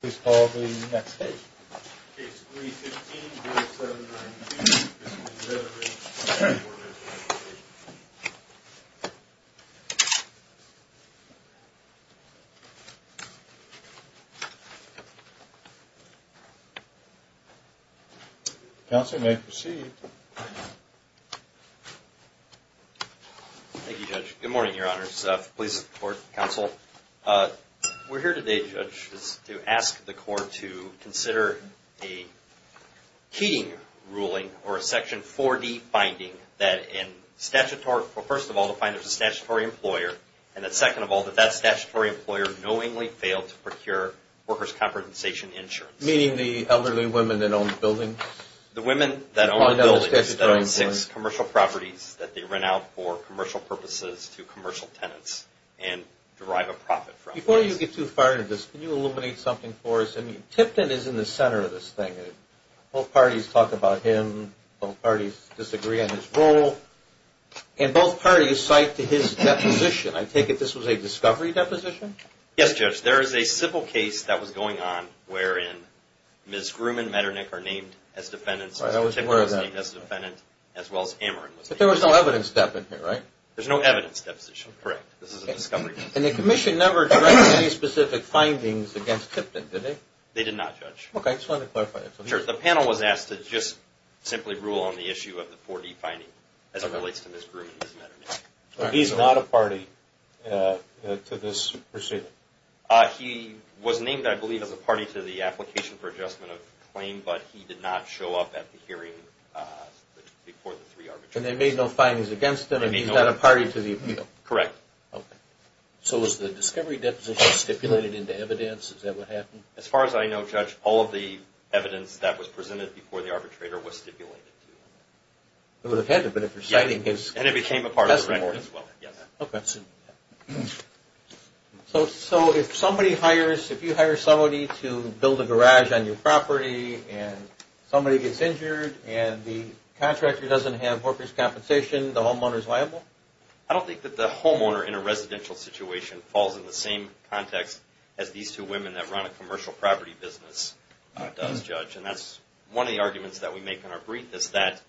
Please call the next case. Case 3-15-079B. This is the Deatherage v. Workers' Compensation Comm'n. Counsel may proceed. Thank you, Judge. Good morning, Your Honors. Please support counsel. We're here today, Judge, to ask the Court to consider a Keating ruling or a Section 4D finding that, first of all, the finder is a statutory employer, and second of all, that that statutory employer knowingly failed to procure workers' compensation insurance. Meaning the elderly women that own the building? The women that own the buildings, that own six commercial properties that they rent out for commercial purposes to commercial tenants and derive a profit from those. Before you get too far into this, can you illuminate something for us? I mean, Tipton is in the center of this thing. Both parties talk about him. Both parties disagree on his role. And both parties cite to his deposition. I take it this was a discovery deposition? Yes, Judge. There is a civil case that was going on wherein Ms. Groom and Metternich are named as defendants, and Tipton was named as a defendant, as well as Ameren was named as a defendant. But there was no evidence deposition here, right? There's no evidence deposition, correct. This is a discovery. And the Commission never directed any specific findings against Tipton, did they? They did not, Judge. Okay, I just wanted to clarify that. The panel was asked to just simply rule on the issue of the 4D finding as it relates to Ms. Groom and Ms. Metternich. But he's not a party to this proceeding? He was named, I believe, as a party to the application for adjustment of the claim, but he did not show up at the hearing before the three arbitrations. And they made no findings against him, and he's not a party to the appeal? Correct. Okay. So was the discovery deposition stipulated into evidence? Is that what happened? As far as I know, Judge, all of the evidence that was presented before the arbitrator was stipulated. It would have had to have been if you're citing his testimony. And it became a part of the report as well, yes. Okay. So if you hire somebody to build a garage on your property, and somebody gets injured, and the contractor doesn't have workers' compensation, the homeowner's liable? I don't think that the homeowner in a residential situation falls in the same context as these two women that run a commercial property business does, Judge. And that's one of the arguments that we make in our brief, is that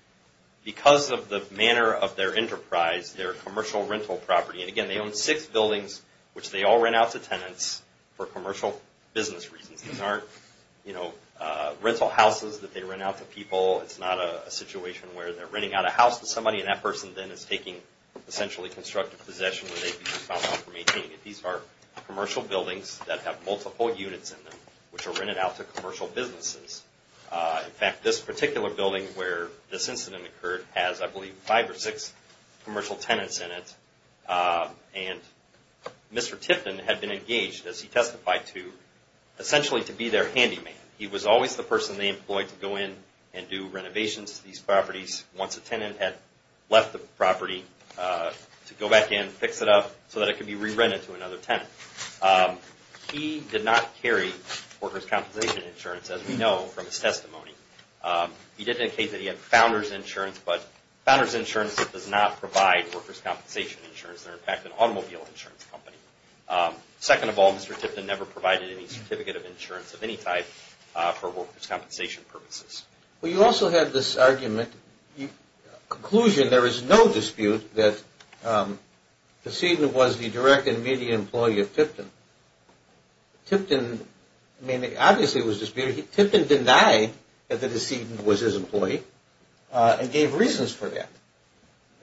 because of the manner of their enterprise, their commercial rental property, and again, they own six buildings, which they all rent out to tenants for commercial business reasons. These aren't, you know, rental houses that they rent out to people. It's not a situation where they're renting out a house to somebody, and that person then is taking essentially constructive possession, where they'd be found out for maintaining it. These are commercial buildings that have multiple units in them, which are rented out to commercial businesses. In fact, this particular building where this incident occurred has, I believe, five or six commercial tenants in it. And Mr. Tifton had been engaged, as he testified to, essentially to be their handyman. He was always the person they employed to go in and do renovations to these properties once a tenant had left the property to go back in, fix it up, so that it could be re-rented to another tenant. He did not carry workers' compensation insurance, as we know from his testimony. He did indicate that he had founders' insurance, but founders' insurance does not provide workers' compensation insurance. They're, in fact, an automobile insurance company. Second of all, Mr. Tipton never provided any certificate of insurance of any type for workers' compensation purposes. Well, you also have this argument. In conclusion, there is no dispute that the decedent was the direct and immediate employee of Tipton. Tipton, I mean, obviously it was disputed. Tipton denied that the decedent was his employee and gave reasons for that.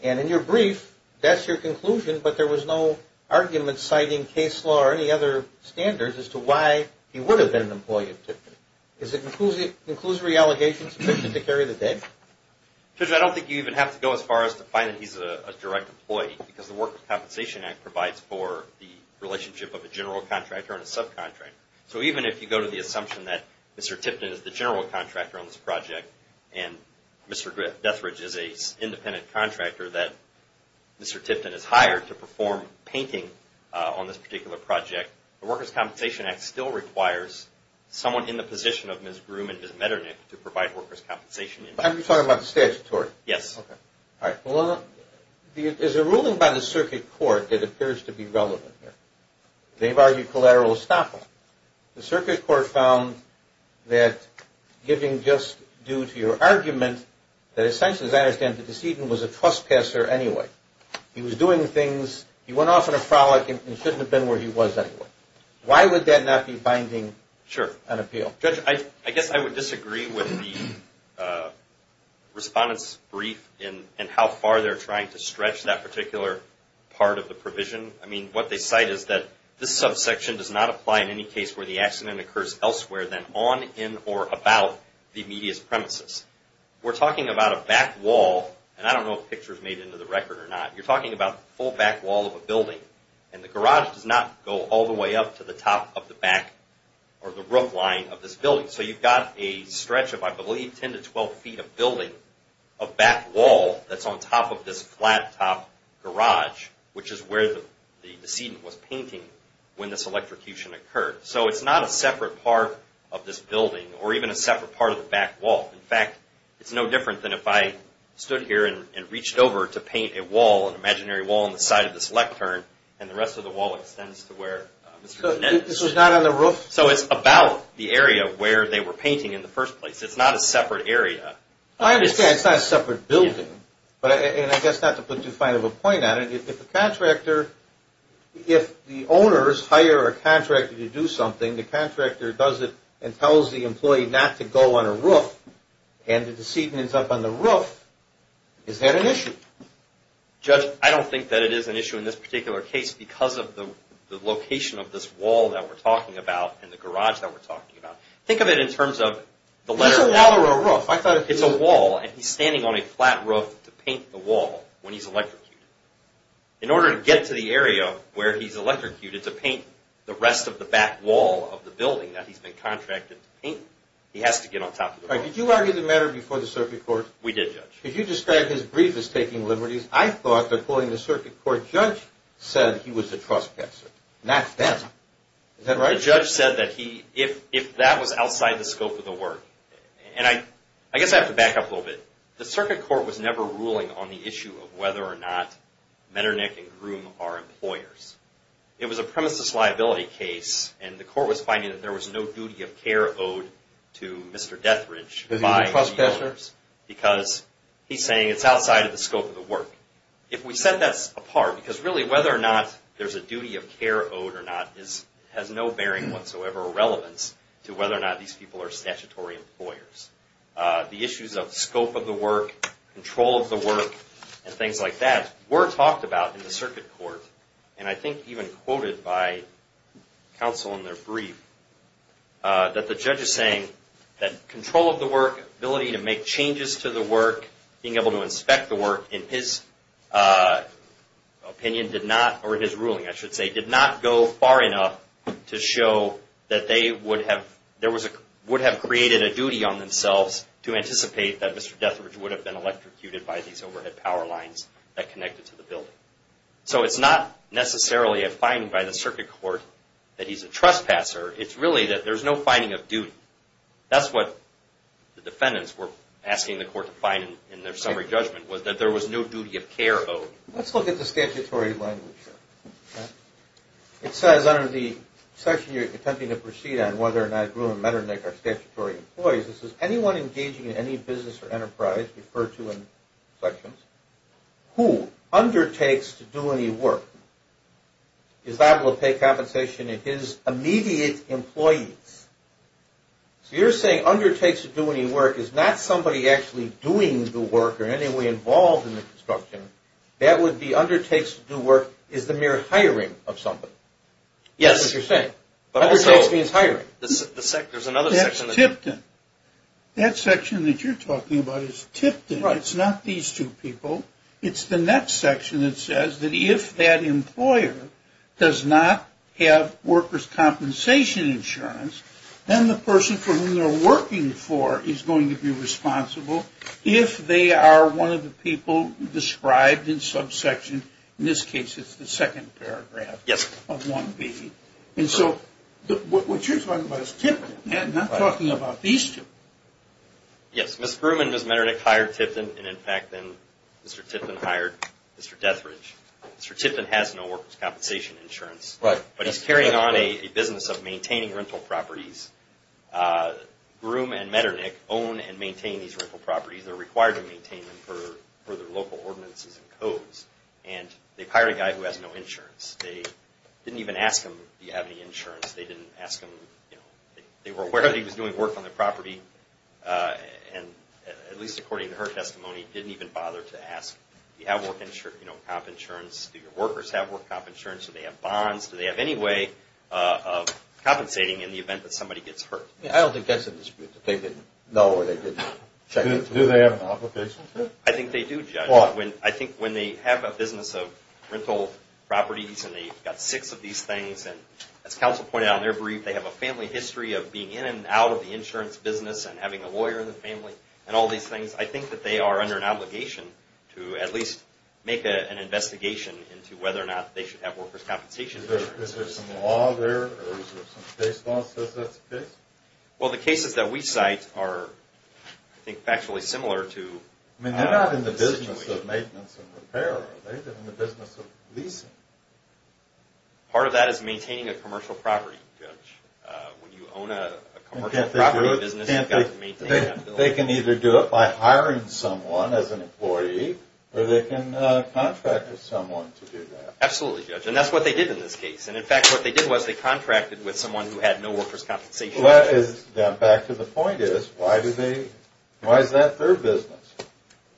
And in your brief, that's your conclusion, but there was no argument citing case law or any other standards as to why he would have been an employee of Tipton. Is the conclusory allegation sufficient to carry the date? Judge, I don't think you even have to go as far as to find that he's a direct employee, because the Workers' Compensation Act provides for the relationship of a general contractor and a subcontractor. So even if you go to the assumption that Mr. Tipton is the general contractor on this project and Mr. Deathridge is an independent contractor that Mr. Tipton has hired to perform painting on this particular project, the Workers' Compensation Act still requires someone in the position of Ms. Groom and Ms. Metternich to provide workers' compensation. Are you talking about the statutory? Yes. All right. Well, there's a ruling by the circuit court that appears to be relevant here. They've argued collateral estoppel. The circuit court found that giving just due to your argument that essentially, as I understand it, the decedent was a trespasser anyway. He was doing things. He went off on a frolic and shouldn't have been where he was anyway. Why would that not be binding on appeal? Sure. Judge, I guess I would disagree with the respondent's brief in how far they're trying to stretch that particular part of the provision. I mean, what they cite is that this subsection does not apply in any case where the accident occurs elsewhere than on, in, or about the immediate premises. We're talking about a back wall, and I don't know if the picture is made into the record or not. You're talking about the full back wall of a building, and the garage does not go all the way up to the top of the back or the roof line of this building. So you've got a stretch of, I believe, 10 to 12 feet of building, a back wall that's on top of this flat top garage, which is where the decedent was painting when this electrocution occurred. So it's not a separate part of this building or even a separate part of the back wall. In fact, it's no different than if I stood here and reached over to paint a wall, an imaginary wall on the side of this lectern, and the rest of the wall extends to where Mr. Gannett is. So it's not on the roof? So it's about the area where they were painting in the first place. It's not a separate area. I understand it's not a separate building. And I guess not to put too fine of a point on it, if the contractor, if the owners hire a contractor to do something, the contractor does it and tells the employee not to go on a roof, and the decedent is up on the roof, is that an issue? Judge, I don't think that it is an issue in this particular case because of the location of this wall that we're talking about and the garage that we're talking about. Think of it in terms of the letter of the roof. It's a wall. And he's standing on a flat roof to paint the wall when he's electrocuted. In order to get to the area where he's electrocuted to paint the rest of the back wall of the building that he's been contracted to paint, he has to get on top of the wall. All right. Did you argue the matter before the circuit court? We did, Judge. Could you describe his brief as taking liberties? I thought that, according to the circuit court, Judge said he was the trust person, not them. Is that right? The judge said that if that was outside the scope of the work, and I guess I have to back up a little bit. The circuit court was never ruling on the issue of whether or not Metternich and Groom are employers. It was a premises liability case, and the court was finding that there was no duty of care owed to Mr. Dethridge. Does he trust Dethridge? Because he's saying it's outside of the scope of the work. If we set that apart, because really whether or not there's a duty of care owed or not has no bearing whatsoever, relevance to whether or not these people are statutory employers. The issues of scope of the work, control of the work, and things like that were talked about in the circuit court, and I think even quoted by counsel in their brief, that the judge is saying that control of the work, ability to make changes to the work, being able to inspect the work, in his opinion did not, or his ruling I should say, did not go far enough to show that they would have created a duty on themselves to anticipate that Mr. Dethridge would have been electrocuted by these overhead power lines that connected to the building. So it's not necessarily a finding by the circuit court that he's a trespasser. It's really that there's no finding of duty. That's what the defendants were asking the court to find in their summary judgment was that there was no duty of care owed. Let's look at the statutory language here. It says under the section you're attempting to proceed on whether or not Gruen and Metternich are statutory employees. This is anyone engaging in any business or enterprise referred to in sections who undertakes to do any work is liable to pay compensation to his immediate employees. So you're saying undertakes to do any work is not somebody actually doing the work or in any way involved in the construction. That would be undertakes to do work is the mere hiring of somebody. Yes, that's what you're saying. Undertakes means hiring. That's Tipton. That section that you're talking about is Tipton. It's not these two people. It's the next section that says that if that employer does not have workers' compensation insurance, then the person for whom they're working for is going to be responsible if they are one of the people described in subsection. In this case, it's the second paragraph of 1B. And so what you're talking about is Tipton, not talking about these two. Yes, Ms. Gruen and Ms. Metternich hired Tipton, and in fact, then Mr. Tipton hired Mr. Deathridge. Mr. Tipton has no workers' compensation insurance, but he's carrying on a business of maintaining rental properties. Gruen and Metternich own and maintain these rental properties. They're required to maintain them for their local ordinances and codes. And they've hired a guy who has no insurance. They didn't even ask him, do you have any insurance? They didn't ask him. They were aware that he was doing work on the property, and at least according to her testimony, didn't even bother to ask, do you have work comp insurance? Do your workers have work comp insurance? Do they have bonds? Do they have any way of compensating in the event that somebody gets hurt? I don't think that's a dispute. They didn't know or they didn't check. Do they have an application? I think they do, Judge. I think when they have a business of rental properties and they've got six of these things, and as counsel pointed out in their brief, they have a family history of being in and out of the insurance business and having a lawyer in the family and all these things. I think that they are under an obligation to at least make an investigation into whether or not they should have workers' compensation insurance. Is there some law there or is there some case law that says that's the case? Well, the cases that we cite are, I think, factually similar to the situation. I mean, they're not in the business of maintenance and repair, are they? They're in the business of leasing. Part of that is maintaining a commercial property, Judge. When you own a commercial property business, you've got to maintain that building. They can either do it by hiring someone as an employee or they can contract with someone to do that. Absolutely, Judge, and that's what they did in this case. And, in fact, what they did was they contracted with someone who had no workers' compensation insurance. Well, back to the point is, why is that their business?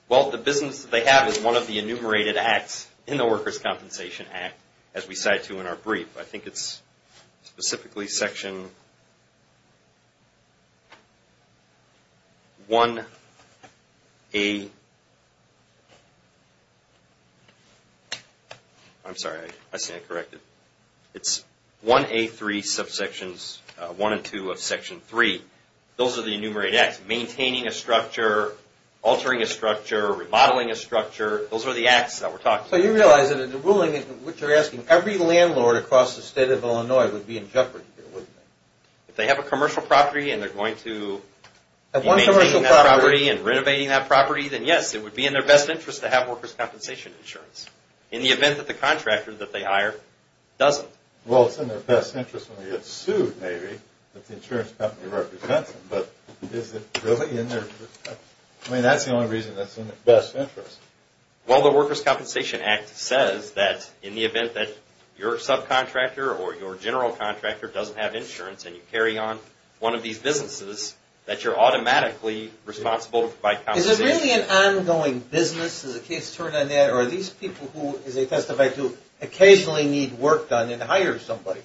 Well, the business that they have is one of the enumerated acts in the Workers' Compensation Act, as we cite to in our brief. I think it's specifically Section 1A3, subsections 1 and 2 of Section 3. Those are the enumerated acts. Maintaining a structure, altering a structure, remodeling a structure. Those are the acts that we're talking about. So you realize that in the ruling in which you're asking, every landlord across the state of Illinois would be in jeopardy here, wouldn't they? If they have a commercial property and they're going to be maintaining that property and renovating that property, then, yes, it would be in their best interest to have workers' compensation insurance in the event that the contractor that they hire doesn't. Well, it's in their best interest when they get sued, maybe, that the insurance company represents them. But is it really in their best interest? I mean, that's the only reason that's in their best interest. Well, the Workers' Compensation Act says that in the event that your subcontractor or your general contractor doesn't have insurance and you carry on one of these businesses, that you're automatically responsible to provide compensation. Is this really an ongoing business? Is the case turned on that? Are these people who, as they testified, who occasionally need work done and hire somebody,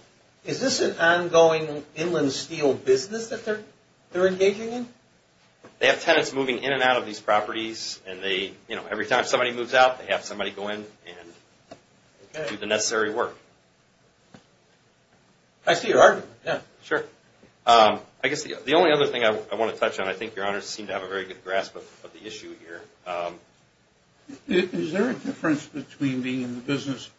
is this an ongoing Inland Steel business that they're engaging in? They have tenants moving in and out of these properties, and they, you know, every time somebody moves out, they have somebody go in and do the necessary work. I see your argument, yeah. Sure. I guess the only other thing I want to touch on, I think your honors seem to have a very good grasp of the issue here. Is there a difference between being in the business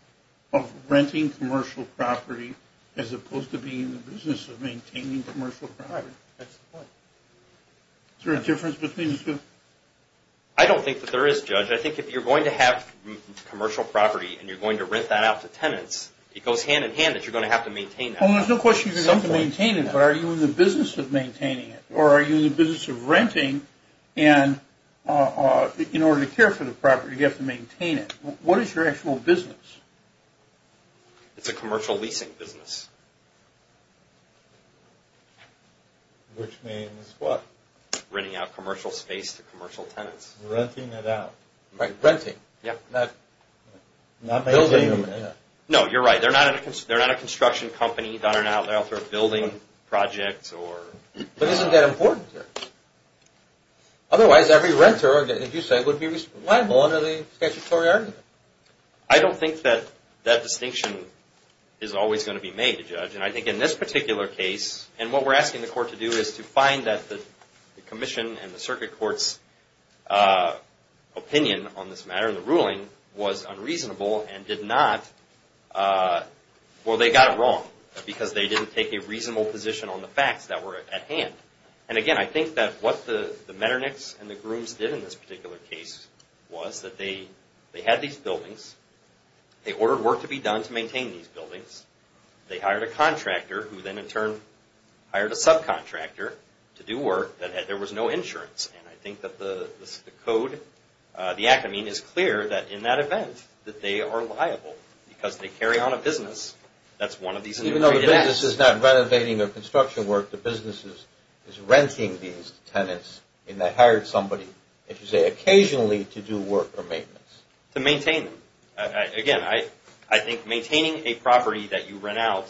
of renting commercial property as opposed to being in the business of maintaining commercial property? That's the point. Is there a difference between the two? I don't think that there is, Judge. I think if you're going to have commercial property and you're going to rent that out to tenants, it goes hand in hand that you're going to have to maintain that. Well, there's no question you're going to have to maintain it, but are you in the business of maintaining it? Or are you in the business of renting, and in order to care for the property, you have to maintain it? What is your actual business? It's a commercial leasing business. Which means what? Renting out commercial space to commercial tenants. Renting it out. Right, renting. Yeah. Not building it. No, you're right. They're not a construction company. They're not out there building projects. But isn't that important, Judge? Otherwise, every renter, as you say, would be liable under the statutory argument. I don't think that that distinction is always going to be made, Judge. And I think in this particular case, and what we're asking the court to do is to find that the commission and the circuit court's opinion on this matter, the ruling, was unreasonable and did not, well, they got it wrong, because they didn't take a reasonable position on the facts that were at hand. And, again, I think that what the Metternichs and the Grooms did in this particular case was that they had these buildings, they ordered work to be done to maintain these buildings, they hired a contractor who then, in turn, hired a subcontractor to do work, and there was no insurance. And I think that the code, the act, I mean, is clear that in that event, that they are liable, because they carry on a business. That's one of these... Even though the business is not renovating or construction work, the business is renting these tenants and they hired somebody, if you say occasionally, to do work or maintenance. To maintain them. Again, I think maintaining a property that you rent out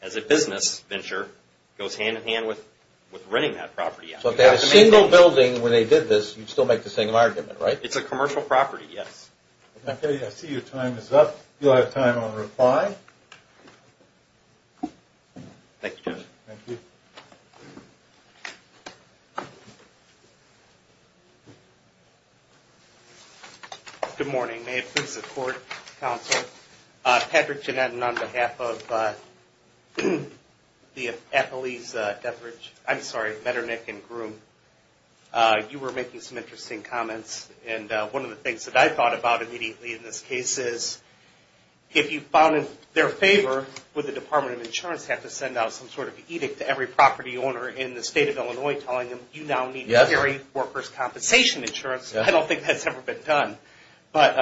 as a business venture goes hand-in-hand with renting that property out. So if they had a single building when they did this, you'd still make the same argument, right? It's a commercial property, yes. Okay. I see your time is up. You'll have time on reply. Thank you, Judge. Thank you. Good morning. May it please the Court, Counsel. Patrick Janetin, on behalf of the Appalachian, I'm sorry, Metternich and Groom, you were making some interesting comments. And one of the things that I thought about immediately in this case is if you found in their favor, would the Department of Insurance have to send out some sort of edict to every property owner in the state of Illinois telling them you now need to carry workers' compensation insurance? Yes. I don't think that's ever been done. But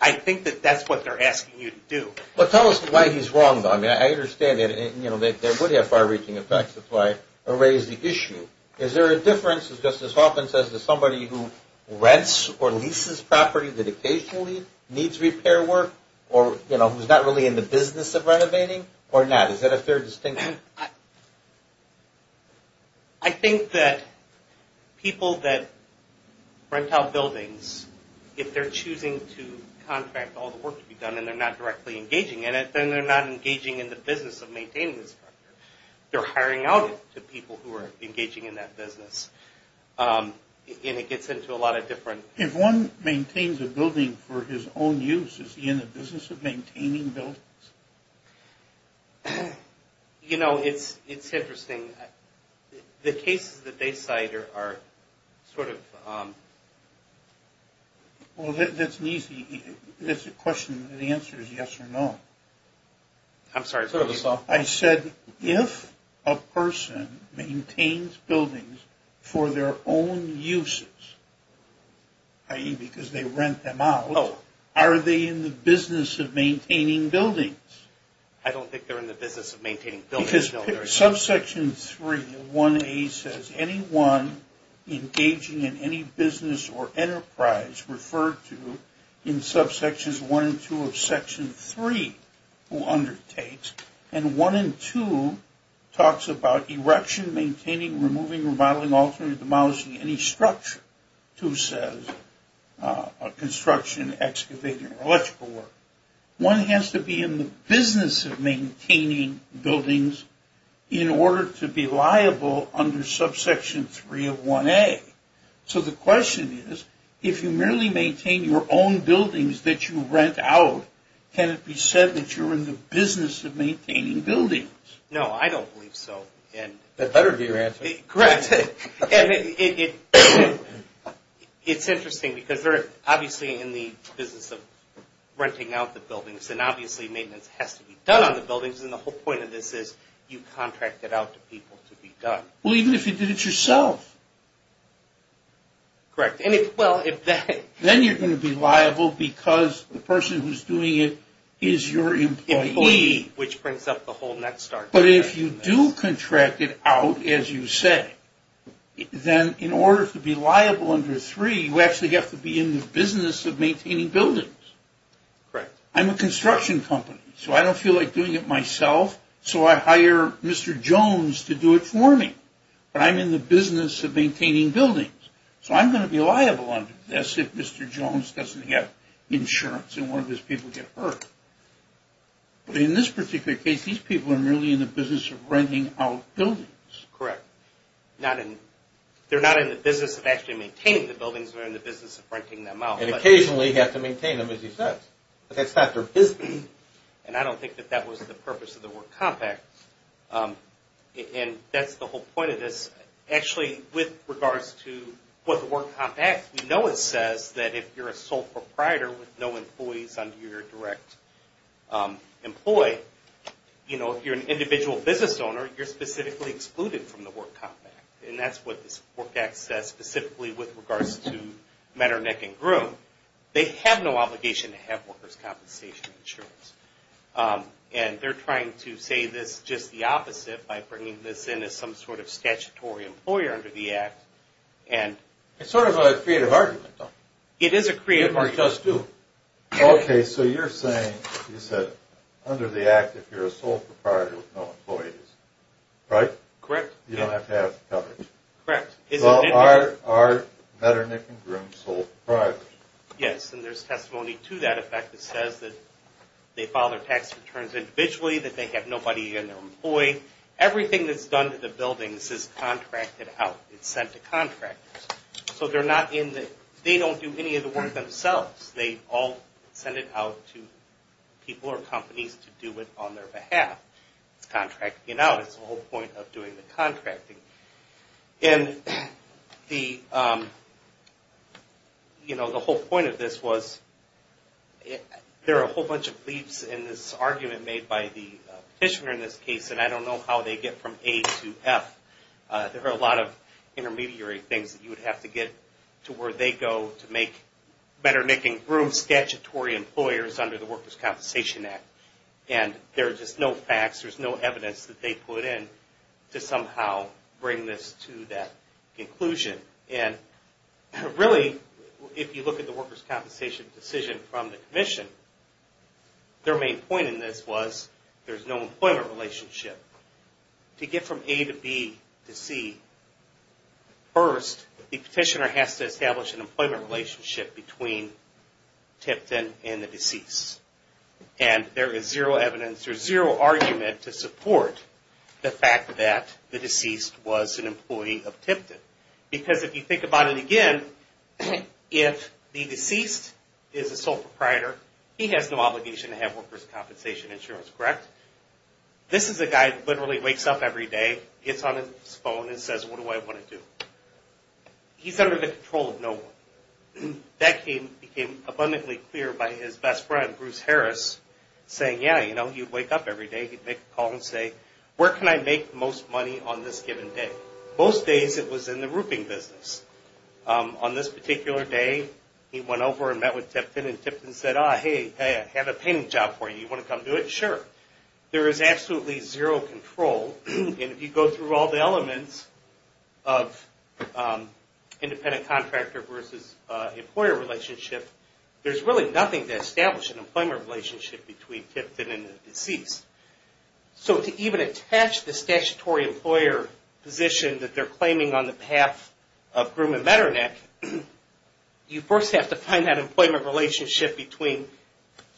I think that that's what they're asking you to do. But tell us why he's wrong, though. I mean, I understand that there would have far-reaching effects. That's why I raised the issue. Is there a difference, as Justice Hoffman says, to somebody who rents or leases property that occasionally needs repair work or, you know, who's not really in the business of renovating or not? Is that a fair distinction? I think that people that rent out buildings, if they're choosing to contract all the work to be done and they're not directly engaging in it, then they're not engaging in the business of maintaining the structure. They're hiring out to people who are engaging in that business. And it gets into a lot of different... If one maintains a building for his own use, is he in the business of maintaining buildings? You know, it's interesting. The cases that they cite are sort of... Well, that's an easy question. The answer is yes or no. I'm sorry. I said if a person maintains buildings for their own uses, i.e. because they rent them out, are they in the business of maintaining buildings? I don't think they're in the business of maintaining buildings. Because subsection 3 of 1A says anyone engaging in any business or enterprise referred to in subsections 1 and 2 of section 3 who undertakes, and 1 and 2 talks about erection, maintaining, removing, remodeling, altering, demolishing, any structure. 2 says construction, excavating, or electrical work. One has to be in the business of maintaining buildings in order to be liable under subsection 3 of 1A. So the question is, if you merely maintain your own buildings that you rent out, can it be said that you're in the business of maintaining buildings? No, I don't believe so. That better be your answer. Correct. It's interesting because they're obviously in the business of renting out the buildings, and obviously maintenance has to be done on the buildings, and the whole point of this is you contract it out to people to be done. Well, even if you did it yourself. Correct. Then you're going to be liable because the person who's doing it is your employee. Which brings up the whole net start. But if you do contract it out, as you say, then in order to be liable under 3, you actually have to be in the business of maintaining buildings. Correct. I'm a construction company, so I don't feel like doing it myself, so I hire Mr. Jones to do it for me, but I'm in the business of maintaining buildings, so I'm going to be liable under this if Mr. Jones doesn't get insurance and one of his people get hurt. But in this particular case, these people are really in the business of renting out buildings. Correct. They're not in the business of actually maintaining the buildings, they're in the business of renting them out. And occasionally you have to maintain them, as you said. That's not their business. And I don't think that that was the purpose of the word compact, and that's the whole point of this. Actually, with regards to what the word compact, we know it says that if you're a sole proprietor with no employees under your direct employee, if you're an individual business owner, you're specifically excluded from the word compact. And that's what this work act says specifically with regards to men are neck and groom. They have no obligation to have workers' compensation insurance. by bringing this in as some sort of statutory employer under the act. It's sort of a creative argument, though. It is a creative argument. It does, too. Okay, so you're saying, you said, under the act, if you're a sole proprietor with no employees, right? Correct. You don't have to have coverage. Correct. Well, are men are neck and groom sole proprietors? Yes, and there's testimony to that effect that says that they file their tax returns individually, that they have nobody in their employee. Everything that's done to the buildings is contracted out. It's sent to contractors. So they don't do any of the work themselves. They all send it out to people or companies to do it on their behalf. It's contracting it out. It's the whole point of doing the contracting. And the whole point of this was there are a whole bunch of leaps in this argument made by the petitioner in this case, and I don't know how they get from A to F. There are a lot of intermediary things that you would have to get to where they go to make better neck and groom statutory employers under the Workers' Compensation Act. And there are just no facts. There's no evidence that they put in to somehow bring this to that conclusion. And really, if you look at the Workers' Compensation decision from the commission, their main point in this was there's no employment relationship. To get from A to B to C, first the petitioner has to establish an employment relationship between Tipton and the deceased. And there is zero evidence or zero argument to support the fact that the deceased was an employee of Tipton. Because if you think about it again, if the deceased is a sole proprietor, he has no obligation to have workers' compensation insurance, correct? This is a guy that literally wakes up every day, gets on his phone and says, what do I want to do? He's under the control of no one. That became abundantly clear by his best friend, Bruce Harris, saying, yeah, he'd wake up every day, he'd make a call and say, where can I make the most money on this given day? Most days it was in the rooping business. On this particular day, he went over and met with Tipton and Tipton said, hey, I have a painting job for you. You want to come do it? Sure. There is absolutely zero control. And if you go through all the elements of independent contractor versus employer relationship, there's really nothing to establish an employment relationship between Tipton and the deceased. So to even attach the statutory employer position that they're claiming on behalf of Groom and Metternich, you first have to find that employment relationship between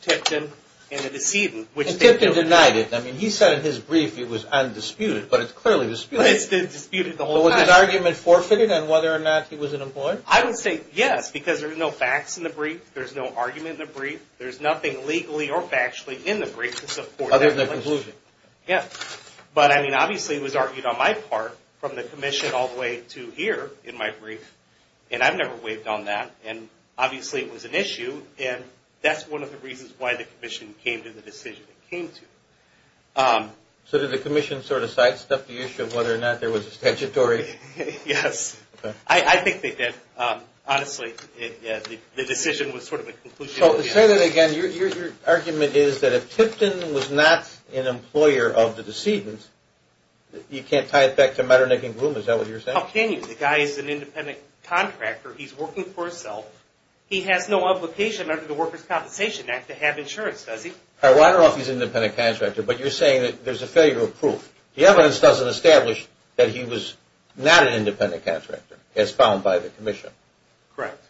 Tipton and the decedent. And Tipton denied it. I mean, he said in his brief it was undisputed, but it's clearly disputed. It's disputed the whole time. Was his argument forfeited on whether or not he was an employer? I would say yes, because there's no facts in the brief. There's no argument in the brief. There's nothing legally or factually in the brief to support that. Other than the conclusion. Yeah. But, I mean, obviously it was argued on my part from the commission all the way to here in my brief, and I've never waived on that. And obviously it was an issue, and that's one of the reasons why the commission came to the decision it came to. So did the commission sort of sidestep the issue of whether or not there was a statutory? Yes. Okay. I think they did. Honestly, the decision was sort of a conclusion. So to say that again, your argument is that if Tipton was not an employer of the decedent, you can't tie it back to Metternich and Groom. Is that what you're saying? How can you? The guy is an independent contractor. He's working for himself. He has no obligation under the Workers' Compensation Act to have insurance, does he? I don't know if he's an independent contractor, but you're saying that there's a failure of proof. The evidence doesn't establish that he was not an independent contractor as found by the commission. Correct.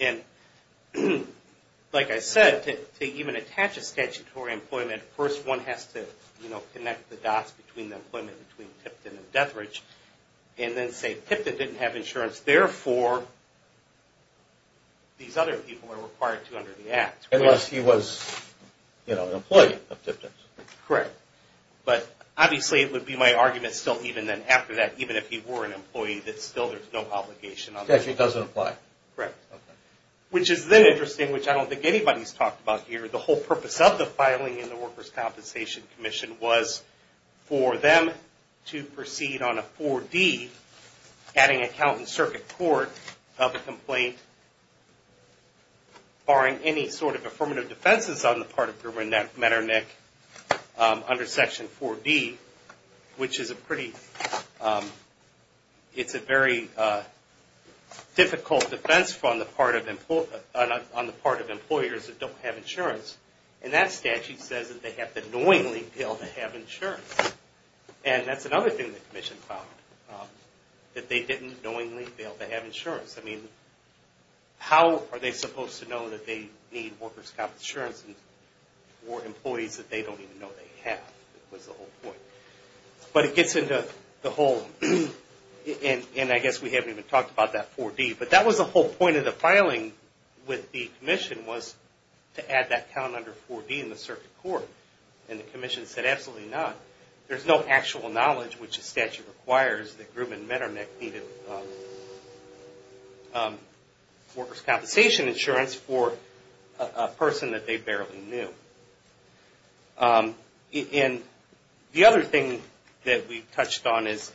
And like I said, to even attach a statutory employment, first one has to connect the dots between the employment between Tipton didn't have insurance, therefore these other people are required to under the Act. Unless he was an employee of Tipton's. Correct. But obviously it would be my argument still even then after that, even if he were an employee, that still there's no obligation. Statutory doesn't apply. Correct. Okay. Which is then interesting, which I don't think anybody's talked about here. The whole purpose of the filing in the Workers' Compensation Commission was for them to proceed on a 4D, adding a count in circuit court of a complaint barring any sort of affirmative defenses on the part of Grimmer and Metternich under Section 4D, which is a pretty, it's a very difficult defense on the part of employers that don't have insurance. And that statute says that they have to knowingly fail to have insurance. And that's another thing the commission found, that they didn't knowingly fail to have insurance. I mean, how are they supposed to know that they need workers' comp insurance for employees that they don't even know they have? That was the whole point. But it gets into the whole, and I guess we haven't even talked about that 4D. But that was the whole point of the filing with the commission was to add that count under 4D in the circuit court. And the commission said, absolutely not. There's no actual knowledge, which the statute requires, that Grimmer and Metternich needed workers' compensation insurance for a person that they barely knew. And the other thing that we've touched on is,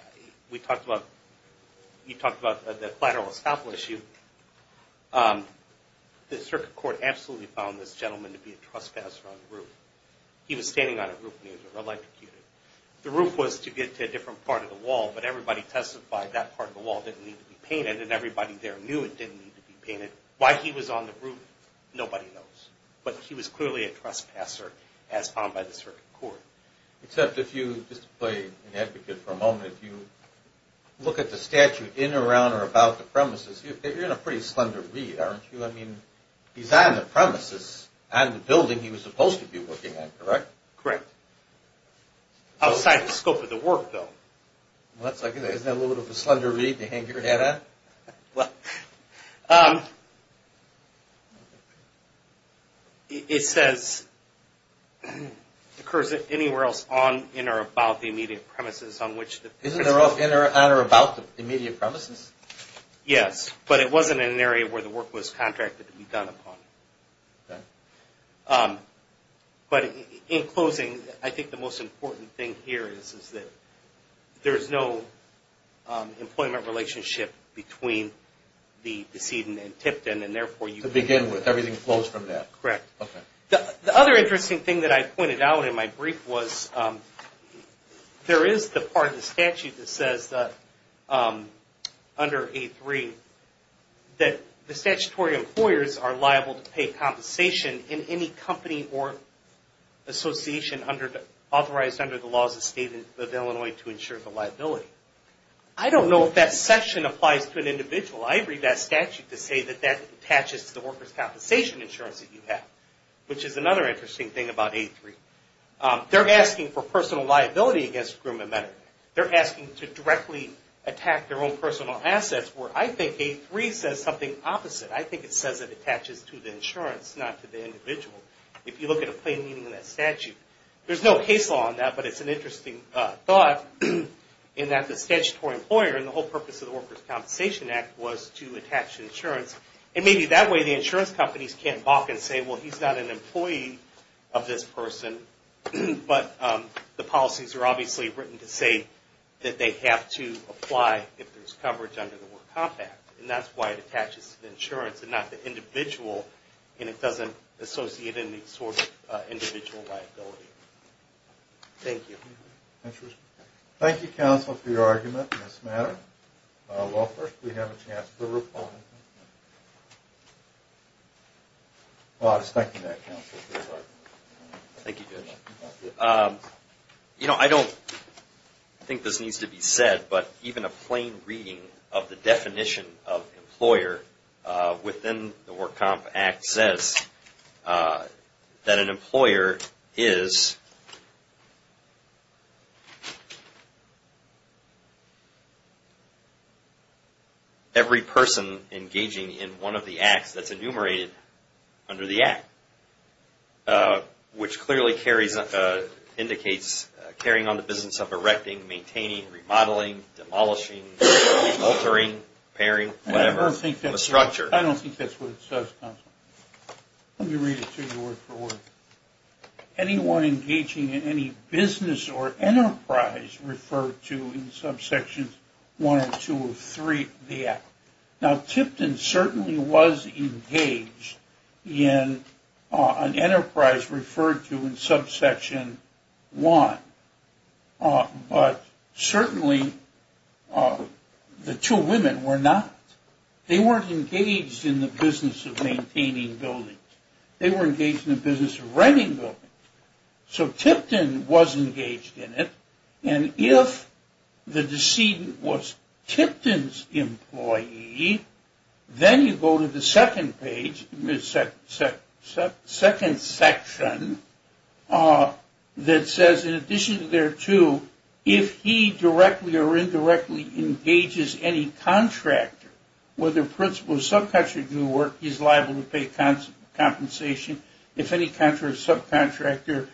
we talked about the collateral estoppel issue. The circuit court absolutely found this gentleman to be a trespasser on the roof. He was standing on a roof. The roof was to get to a different part of the wall, but everybody testified that part of the wall didn't need to be painted, and everybody there knew it didn't need to be painted. Why he was on the roof, nobody knows. But he was clearly a trespasser as found by the circuit court. Except if you, just to play an advocate for a moment, if you look at the statute in, around, or about the premises, you're in a pretty slender read, aren't you? I mean, he's on the premises, on the building he was supposed to be working on, correct? Correct. Outside the scope of the work, though. Isn't that a little bit of a slender read to hang your head on? Well, it says, occurs anywhere else on, in, or about the immediate premises on which... Isn't it on or about the immediate premises? Yes, but it wasn't in an area where the work was contracted to be done upon. Okay. But in closing, I think the most important thing here is that there's no employment relationship between the decedent and tipton, and therefore you... To begin with, everything flows from that. Correct. Okay. The other interesting thing that I pointed out in my brief was, there is the part of the statute that says, under A3, that the statutory employers are liable to pay compensation in any company or association authorized under the laws of state of Illinois to ensure the liability. I don't know if that section applies to an individual. I agree with that statute to say that that attaches to the workers' compensation insurance that you have, which is another interesting thing about A3. They're asking for personal liability against a group of men. They're asking to directly attack their own personal assets, where I think A3 says something opposite. I think it says it attaches to the insurance, not to the individual, if you look at a plain meaning in that statute. There's no case law on that, but it's an interesting thought in that the statutory employer, and the whole purpose of the Workers' Compensation Act was to attach insurance, and maybe that way the insurance companies can't balk and say, well, he's not an employee of this person, but the policies are obviously written to say that they have to apply if there's coverage under the Work Comp Act, and that's why it attaches to the insurance and not the individual, and it doesn't associate any sort of individual liability. Thank you. Thank you, counsel, for your argument in this matter. Well, first, we have a chance for a report. I was thinking that, counsel. Thank you, Judge. You know, I don't think this needs to be said, but even a plain reading of the definition of employer within the Work Comp Act says that an employer is every person engaging in one of the acts that's enumerated under the Act, which clearly indicates carrying on the business of erecting, maintaining, remodeling, demolishing, altering, repairing, whatever, the structure. I don't think that's what it says, counsel. Let me read it to you word for word. Anyone engaging in any business or enterprise referred to in subsections 1 or 2 of 3 of the Act. Now, Tipton certainly was engaged in an enterprise referred to in subsection 1, but certainly the two women were not. They weren't engaged in the business of maintaining buildings. They were engaged in the business of renting buildings. So Tipton was engaged in it, and if the decedent was Tipton's employee, then you go to the second section that says, in addition to there too, if he directly or indirectly engages any contractor, whether principal or subcontractor do work, he's liable to pay compensation. If any subcontractor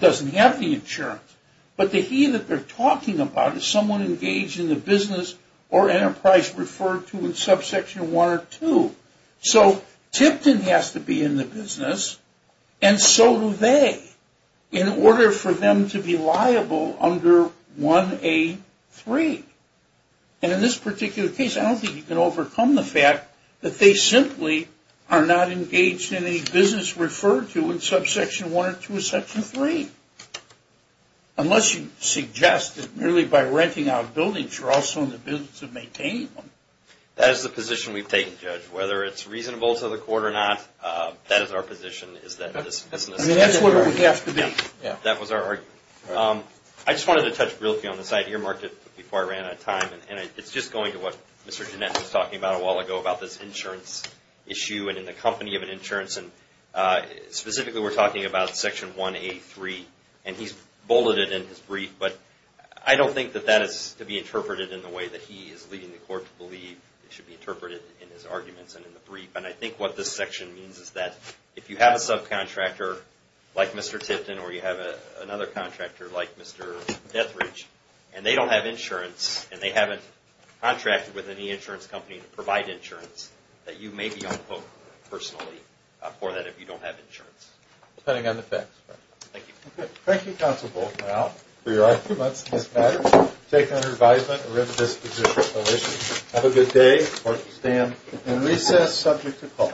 doesn't have the insurance, but the he that they're talking about is someone engaged in the business or enterprise referred to in subsection 1 or 2. So Tipton has to be in the business, and so do they, in order for them to be liable under 1A3. And in this particular case, I don't think you can overcome the fact that they simply are not engaged in any business referred to in subsection 1 or 2 of section 3. Unless you suggest that really by renting out buildings, you're also in the business of maintaining them. That is the position we've taken, Judge. Whether it's reasonable to the court or not, that is our position, is that this business... I mean, that's what it would have to be. That was our argument. I just wanted to touch briefly on this idea, Mark, before I ran out of time, and it's just going to what Mr. Jeanette was talking about a while ago about this insurance issue and in the company of an insurance. Specifically, we're talking about section 1A3, and he's bulleted in his brief, but I don't think that that is to be interpreted in the way that he is leading the court to believe it should be interpreted in his arguments and in the brief. And I think what this section means is that if you have a subcontractor like Mr. Tipton or you have another contractor like Mr. Dethridge, and they don't have insurance, and they haven't contracted with any insurance company to provide insurance, that you may be on the hook, personally, for that if you don't have insurance. Depending on the facts. Thank you. Thank you, Counsel Volkow, for your arguments in this matter. We take it under advisement that we're in a disposition of no issues. Have a good day. Court will stand in recess, subject to call.